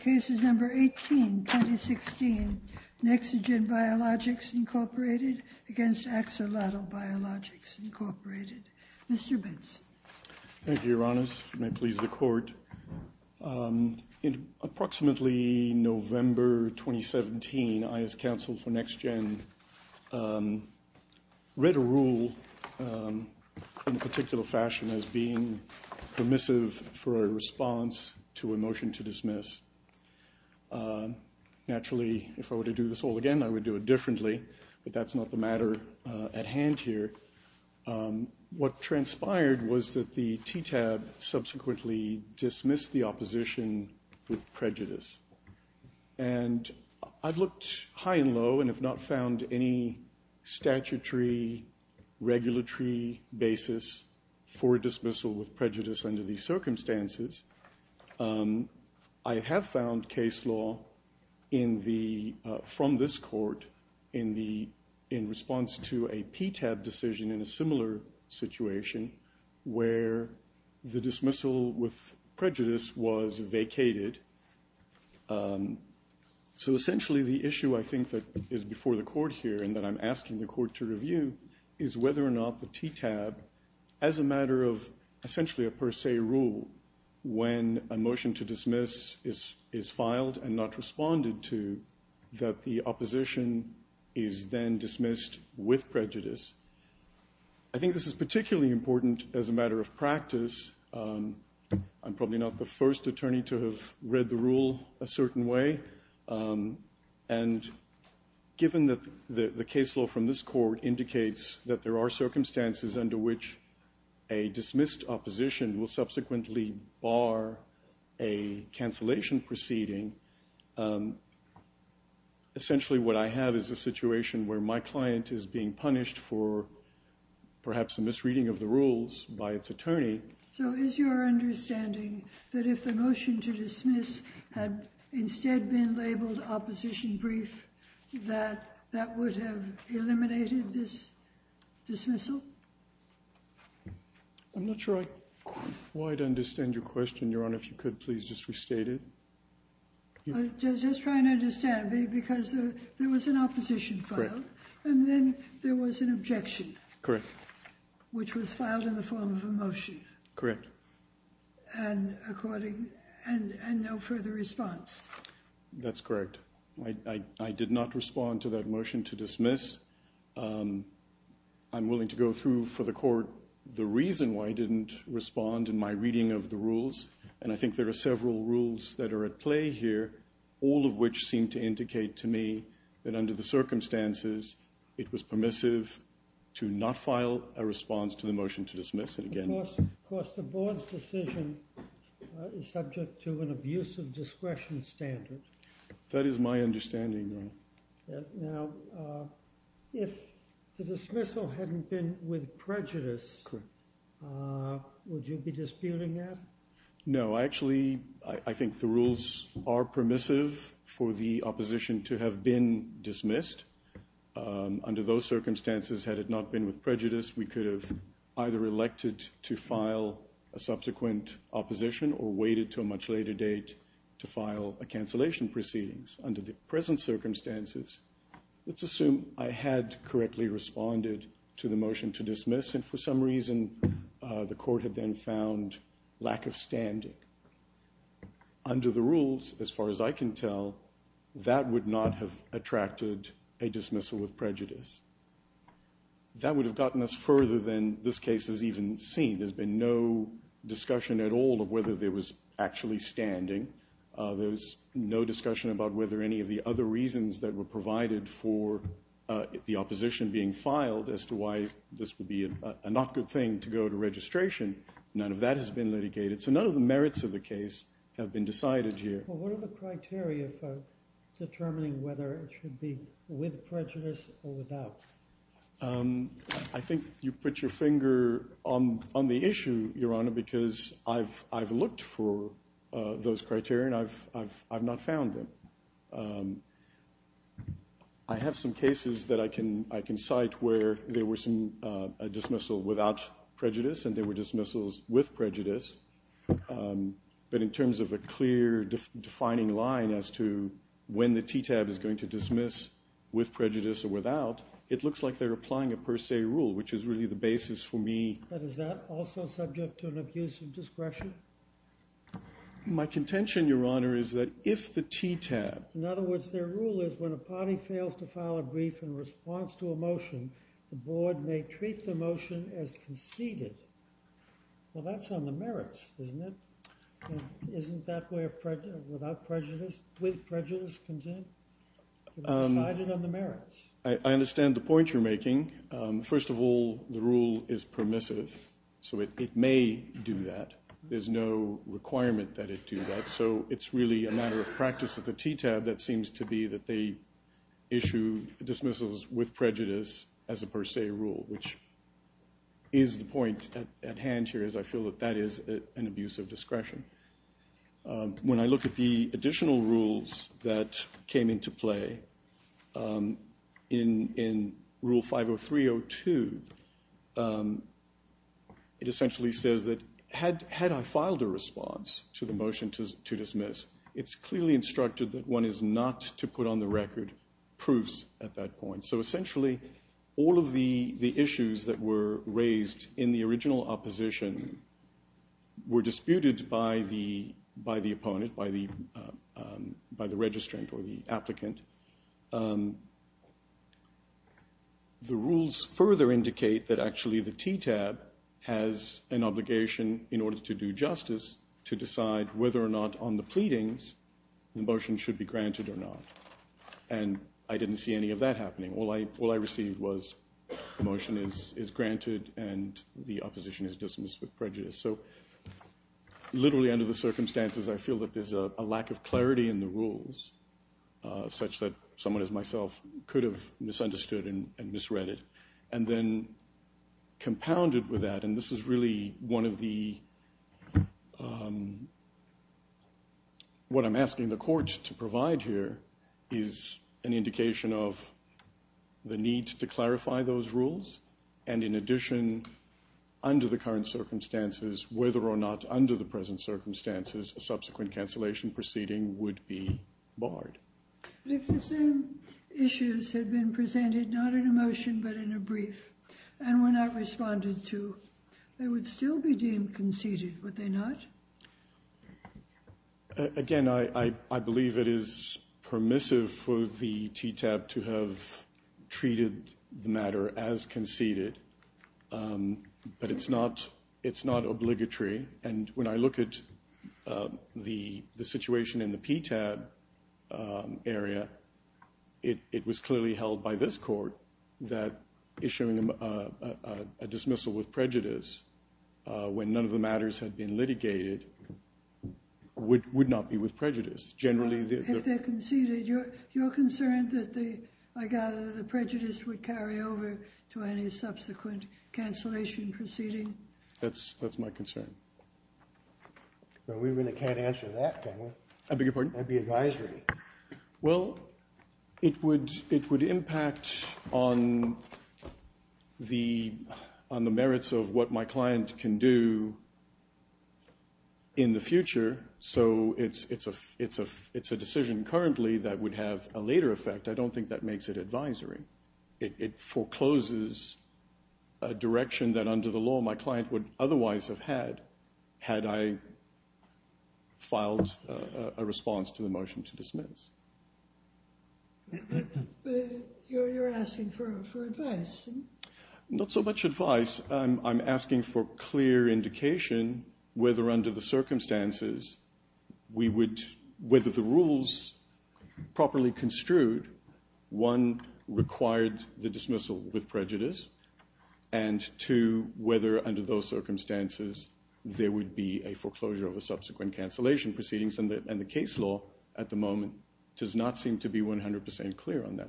Cases number 18-2016, NeXtGen Biologics, Inc. v. Axolotl Biologics, Inc. Mr. Bitz. Thank you, Your Honors. May it please the Court. In approximately November 2017, I, as counsel for NeXtGen, read a rule in a particular fashion as being permissive for a response to a motion to dismiss. Naturally, if I were to do this all again, I would do it differently, but that's not the matter at hand here. What transpired was that the TTAB subsequently dismissed the opposition with prejudice. And I've looked high and low and have not found any statutory regulatory basis for dismissal with prejudice under these circumstances. I have found case law from this Court in response to a PTAB decision in a similar situation where the dismissal with prejudice was vacated. So essentially, the issue I think that is before the Court here and that I'm asking the Court to review is whether or not the TTAB, as a matter of essentially a per se rule, when a motion to dismiss is filed and not responded to, that the opposition is then dismissed with prejudice. I think this is particularly important as a matter of practice. I'm probably not the first attorney to have read the rule a certain way. And given that the case law from this Court indicates that there are circumstances under which a dismissed opposition will subsequently bar a cancellation proceeding, essentially what I have is a situation where my client is being punished for perhaps a misreading of the rules by its attorney. So is your understanding that if the motion to dismiss had instead been labeled opposition brief, that that would have eliminated this dismissal? I'm not sure I quite understand your question, Your Honor. If you could please just restate it. I'm just trying to understand, because there was an opposition filed and then there was an objection. Correct. Which was filed in the form of a motion. Correct. And no further response. That's correct. I did not respond to that motion to dismiss. I'm willing to go through for the Court the reason why I didn't respond in my reading of the rules. And I think there are several rules that are at play here, all of which seem to indicate to me that under the circumstances it was permissive to not file a response to the motion to dismiss. Of course, the Board's decision is subject to an abuse of discretion standard. That is my understanding, Your Honor. Now, if the dismissal hadn't been with prejudice, would you be disputing that? No. Actually, I think the rules are permissive for the opposition to have been dismissed. Under those circumstances, had it not been with prejudice, we could have either elected to file a subsequent opposition or waited to a much later date to file a cancellation proceedings. Under the present circumstances, let's assume I had correctly responded to the motion to dismiss, and for some reason the Court had then found lack of standing. Under the rules, as far as I can tell, that would not have attracted a dismissal with prejudice. That would have gotten us further than this case has even seen. There's been no discussion at all of whether there was actually standing. There was no discussion about whether any of the other reasons that were provided for the opposition being filed as to why this would be a not good thing to go to registration. None of that has been litigated. So none of the merits of the case have been decided here. Well, what are the criteria for determining whether it should be with prejudice or without? I think you put your finger on the issue, Your Honor, because I've looked for those criteria and I've not found them. I have some cases that I can cite where there was a dismissal without prejudice and there were dismissals with prejudice. But in terms of a clear defining line as to when the TTAB is going to dismiss with prejudice or without, it looks like they're applying a per se rule, which is really the basis for me. But is that also subject to an abuse of discretion? My contention, Your Honor, is that if the TTAB... In other words, their rule is when a party fails to file a brief in response to a motion, the board may treat the motion as conceded. Well, that's on the merits, isn't it? And isn't that where without prejudice, with prejudice comes in? It's decided on the merits. I understand the point you're making. First of all, the rule is permissive, so it may do that. There's no requirement that it do that, so it's really a matter of practice at the TTAB that seems to be that they issue dismissals with prejudice as a per se rule, which is the point at hand here, as I feel that that is an abuse of discretion. When I look at the additional rules that came into play in Rule 503.02, it essentially says that had I filed a response to the motion to dismiss, it's clearly instructed that one is not to put on the record proofs at that point. So essentially all of the issues that were raised in the original opposition were disputed by the opponent, by the registrant or the applicant. And the rules further indicate that actually the TTAB has an obligation in order to do justice to decide whether or not on the pleadings the motion should be granted or not. And I didn't see any of that happening. All I received was the motion is granted and the opposition is dismissed with prejudice. So literally under the circumstances I feel that there's a lack of clarity in the rules, such that someone as myself could have misunderstood and misread it. And then compounded with that, and this is really one of the, what I'm asking the court to provide here is an indication of the need to clarify those rules. And in addition, under the current circumstances, whether or not under the present circumstances, a subsequent cancellation proceeding would be barred. But if the same issues had been presented, not in a motion but in a brief, and were not responded to, they would still be deemed conceded, would they not? Again, I believe it is permissive for the TTAB to have treated the matter as conceded. But it's not obligatory. And when I look at the situation in the PTAB area, it was clearly held by this court that issuing a dismissal with prejudice, when none of the matters had been litigated, would not be with prejudice. Generally, the other... If they're conceded, you're concerned that the, I gather, the prejudice would carry over to any subsequent cancellation proceeding? That's my concern. Well, we really can't answer that, can we? I beg your pardon? That'd be advisory. Well, it would impact on the merits of what my client can do in the future. So it's a decision currently that would have a later effect. I don't think that makes it advisory. It forecloses a direction that under the law my client would otherwise have had I filed a response to the motion to dismiss. You're asking for advice. Not so much advice. I'm asking for clear indication whether under the circumstances we would, whether the rules properly construed, one, required the dismissal with prejudice, and two, whether under those circumstances there would be a foreclosure of a subsequent cancellation proceeding. And the case law at the moment does not seem to be 100% clear on that.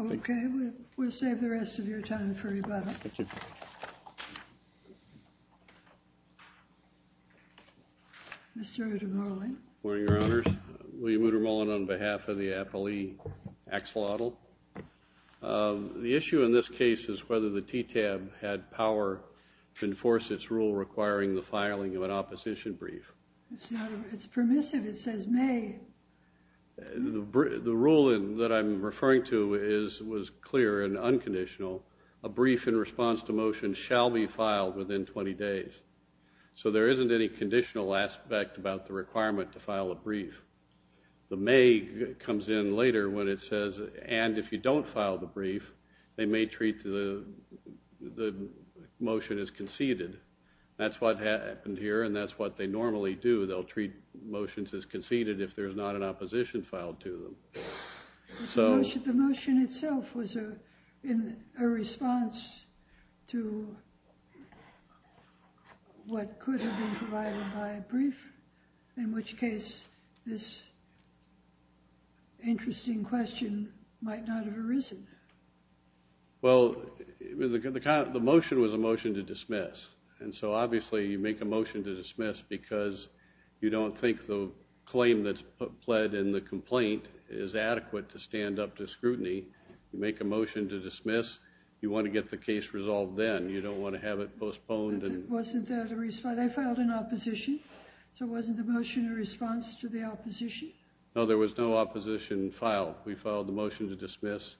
Okay. We'll save the rest of your time for rebuttal. Thank you. Mr. Moodermullen. Good morning, Your Honors. William Moodermullen on behalf of the appellee axolotl. The issue in this case is whether the TTAB had power to enforce its rule requiring the filing of an opposition brief. It's permissive. It says may. The rule that I'm referring to was clear and unconditional, a brief in response to motion shall be filed within 20 days. So there isn't any conditional aspect about the requirement to file a brief. The may comes in later when it says, and if you don't file the brief, they may treat the motion as conceded. That's what happened here, and that's what they normally do. They'll treat motions as conceded if there's not an opposition filed to them. The motion itself was a response to what could have been provided by a brief, in which case this interesting question might not have arisen. Well, the motion was a motion to dismiss, and so obviously you make a motion to dismiss because you don't think the claim that's pled in the complaint is adequate to stand up to scrutiny. You make a motion to dismiss. You want to get the case resolved then. You don't want to have it postponed. Wasn't that a response? They filed an opposition, so wasn't the motion a response to the opposition? No, there was no opposition filed. We filed the motion to dismiss,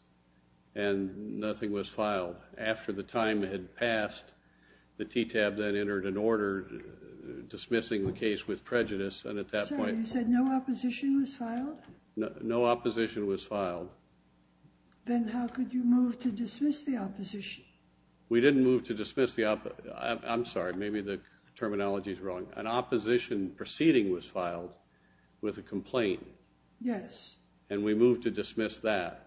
and nothing was filed. After the time had passed, the TTAB then entered an order dismissing the case with prejudice, and at that point— Sorry, you said no opposition was filed? No opposition was filed. Then how could you move to dismiss the opposition? We didn't move to dismiss the—I'm sorry, maybe the terminology is wrong. An opposition proceeding was filed with a complaint. Yes. And we moved to dismiss that.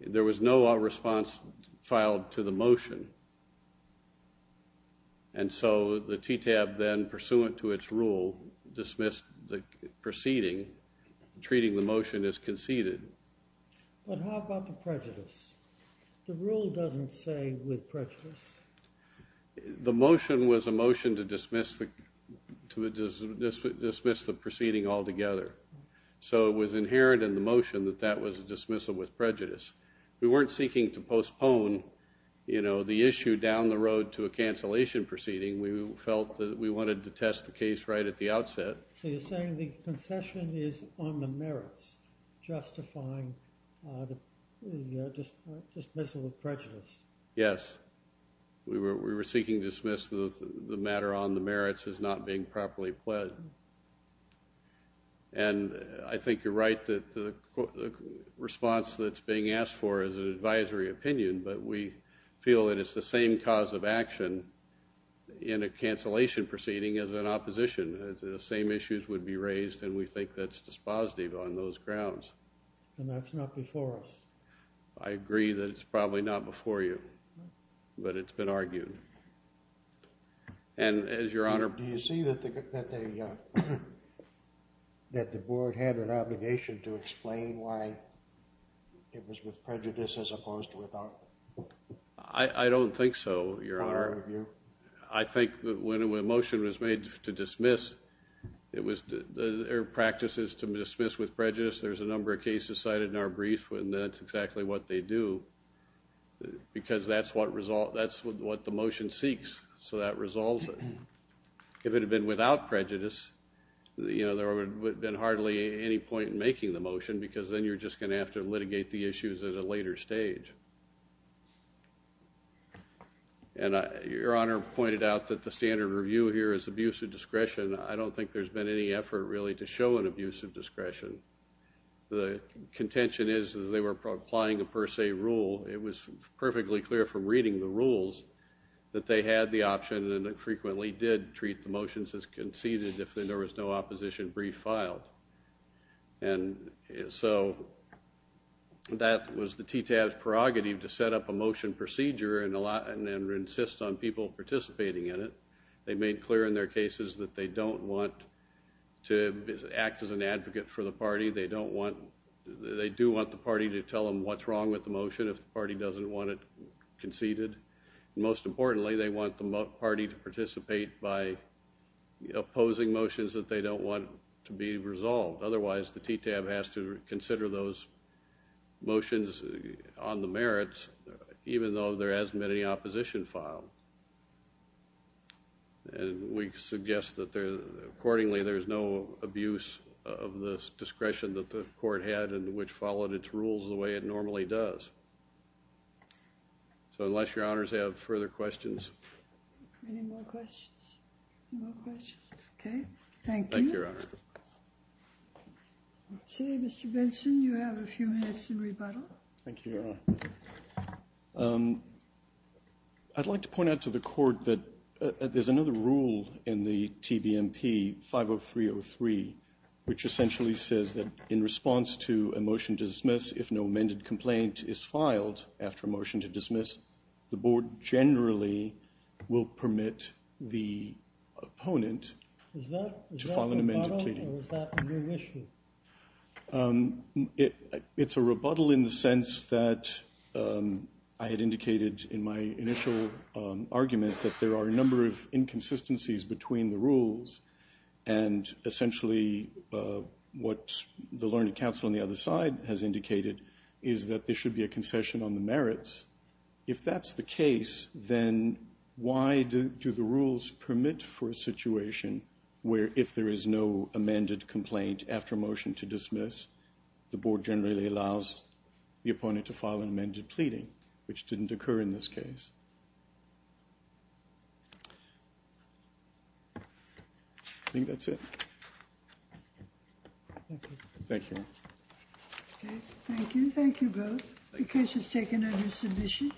There was no response filed to the motion, and so the TTAB then, pursuant to its rule, dismissed the proceeding, treating the motion as conceded. But how about the prejudice? The rule doesn't say with prejudice. The motion was a motion to dismiss the proceeding altogether, so it was inherent in the motion that that was a dismissal with prejudice. We weren't seeking to postpone, you know, the issue down the road to a cancellation proceeding. We felt that we wanted to test the case right at the outset. So you're saying the concession is on the merits, justifying the dismissal with prejudice. Yes. We were seeking to dismiss the matter on the merits as not being properly pled. And I think you're right that the response that's being asked for is an advisory opinion, but we feel that it's the same cause of action in a cancellation proceeding as an opposition. The same issues would be raised, and we think that's dispositive on those grounds. And that's not before us. I agree that it's probably not before you, but it's been argued. Do you see that the board had an obligation to explain why it was with prejudice as opposed to without? I don't think so, Your Honor. I think that when a motion was made to dismiss, their practice is to dismiss with prejudice. There's a number of cases cited in our brief, and that's exactly what they do, because that's what the motion seeks, so that resolves it. If it had been without prejudice, there would have been hardly any point in making the motion, because then you're just going to have to litigate the issues at a later stage. Your Honor pointed out that the standard review here is abuse of discretion. I don't think there's been any effort, really, to show an abuse of discretion. The contention is that they were applying a per se rule. It was perfectly clear from reading the rules that they had the option, and they frequently did treat the motions as conceded if there was no opposition brief filed. And so that was the TTAB's prerogative to set up a motion procedure and insist on people participating in it. They made clear in their cases that they don't want to act as an advocate for the party. They do want the party to tell them what's wrong with the motion if the party doesn't want it conceded. Most importantly, they want the party to participate by opposing motions that they don't want to be resolved. Otherwise, the TTAB has to consider those motions on the merits, even though there hasn't been any opposition filed. And we suggest that accordingly there's no abuse of the discretion that the court had and which followed its rules the way it normally does. So unless Your Honors have further questions. Any more questions? Okay, thank you. Thank you, Your Honor. Mr. Benson, you have a few minutes in rebuttal. Thank you, Your Honor. I'd like to point out to the court that there's another rule in the TBMP 50303, which essentially says that in response to a motion to dismiss, if no amended complaint is filed after a motion to dismiss, the board generally will permit the opponent to file an amended plea. Is that a rebuttal or is that a new issue? It's a rebuttal in the sense that I had indicated in my initial argument that there are a number of inconsistencies between the rules and essentially what the learned counsel on the other side has indicated is that there should be a concession on the merits. If that's the case, then why do the rules permit for a situation where if there is no amended complaint after a motion to dismiss, the board generally allows the opponent to file an amended pleading, which didn't occur in this case. I think that's it. Thank you. Thank you. Okay, thank you. Thank you both. The case is taken under submission.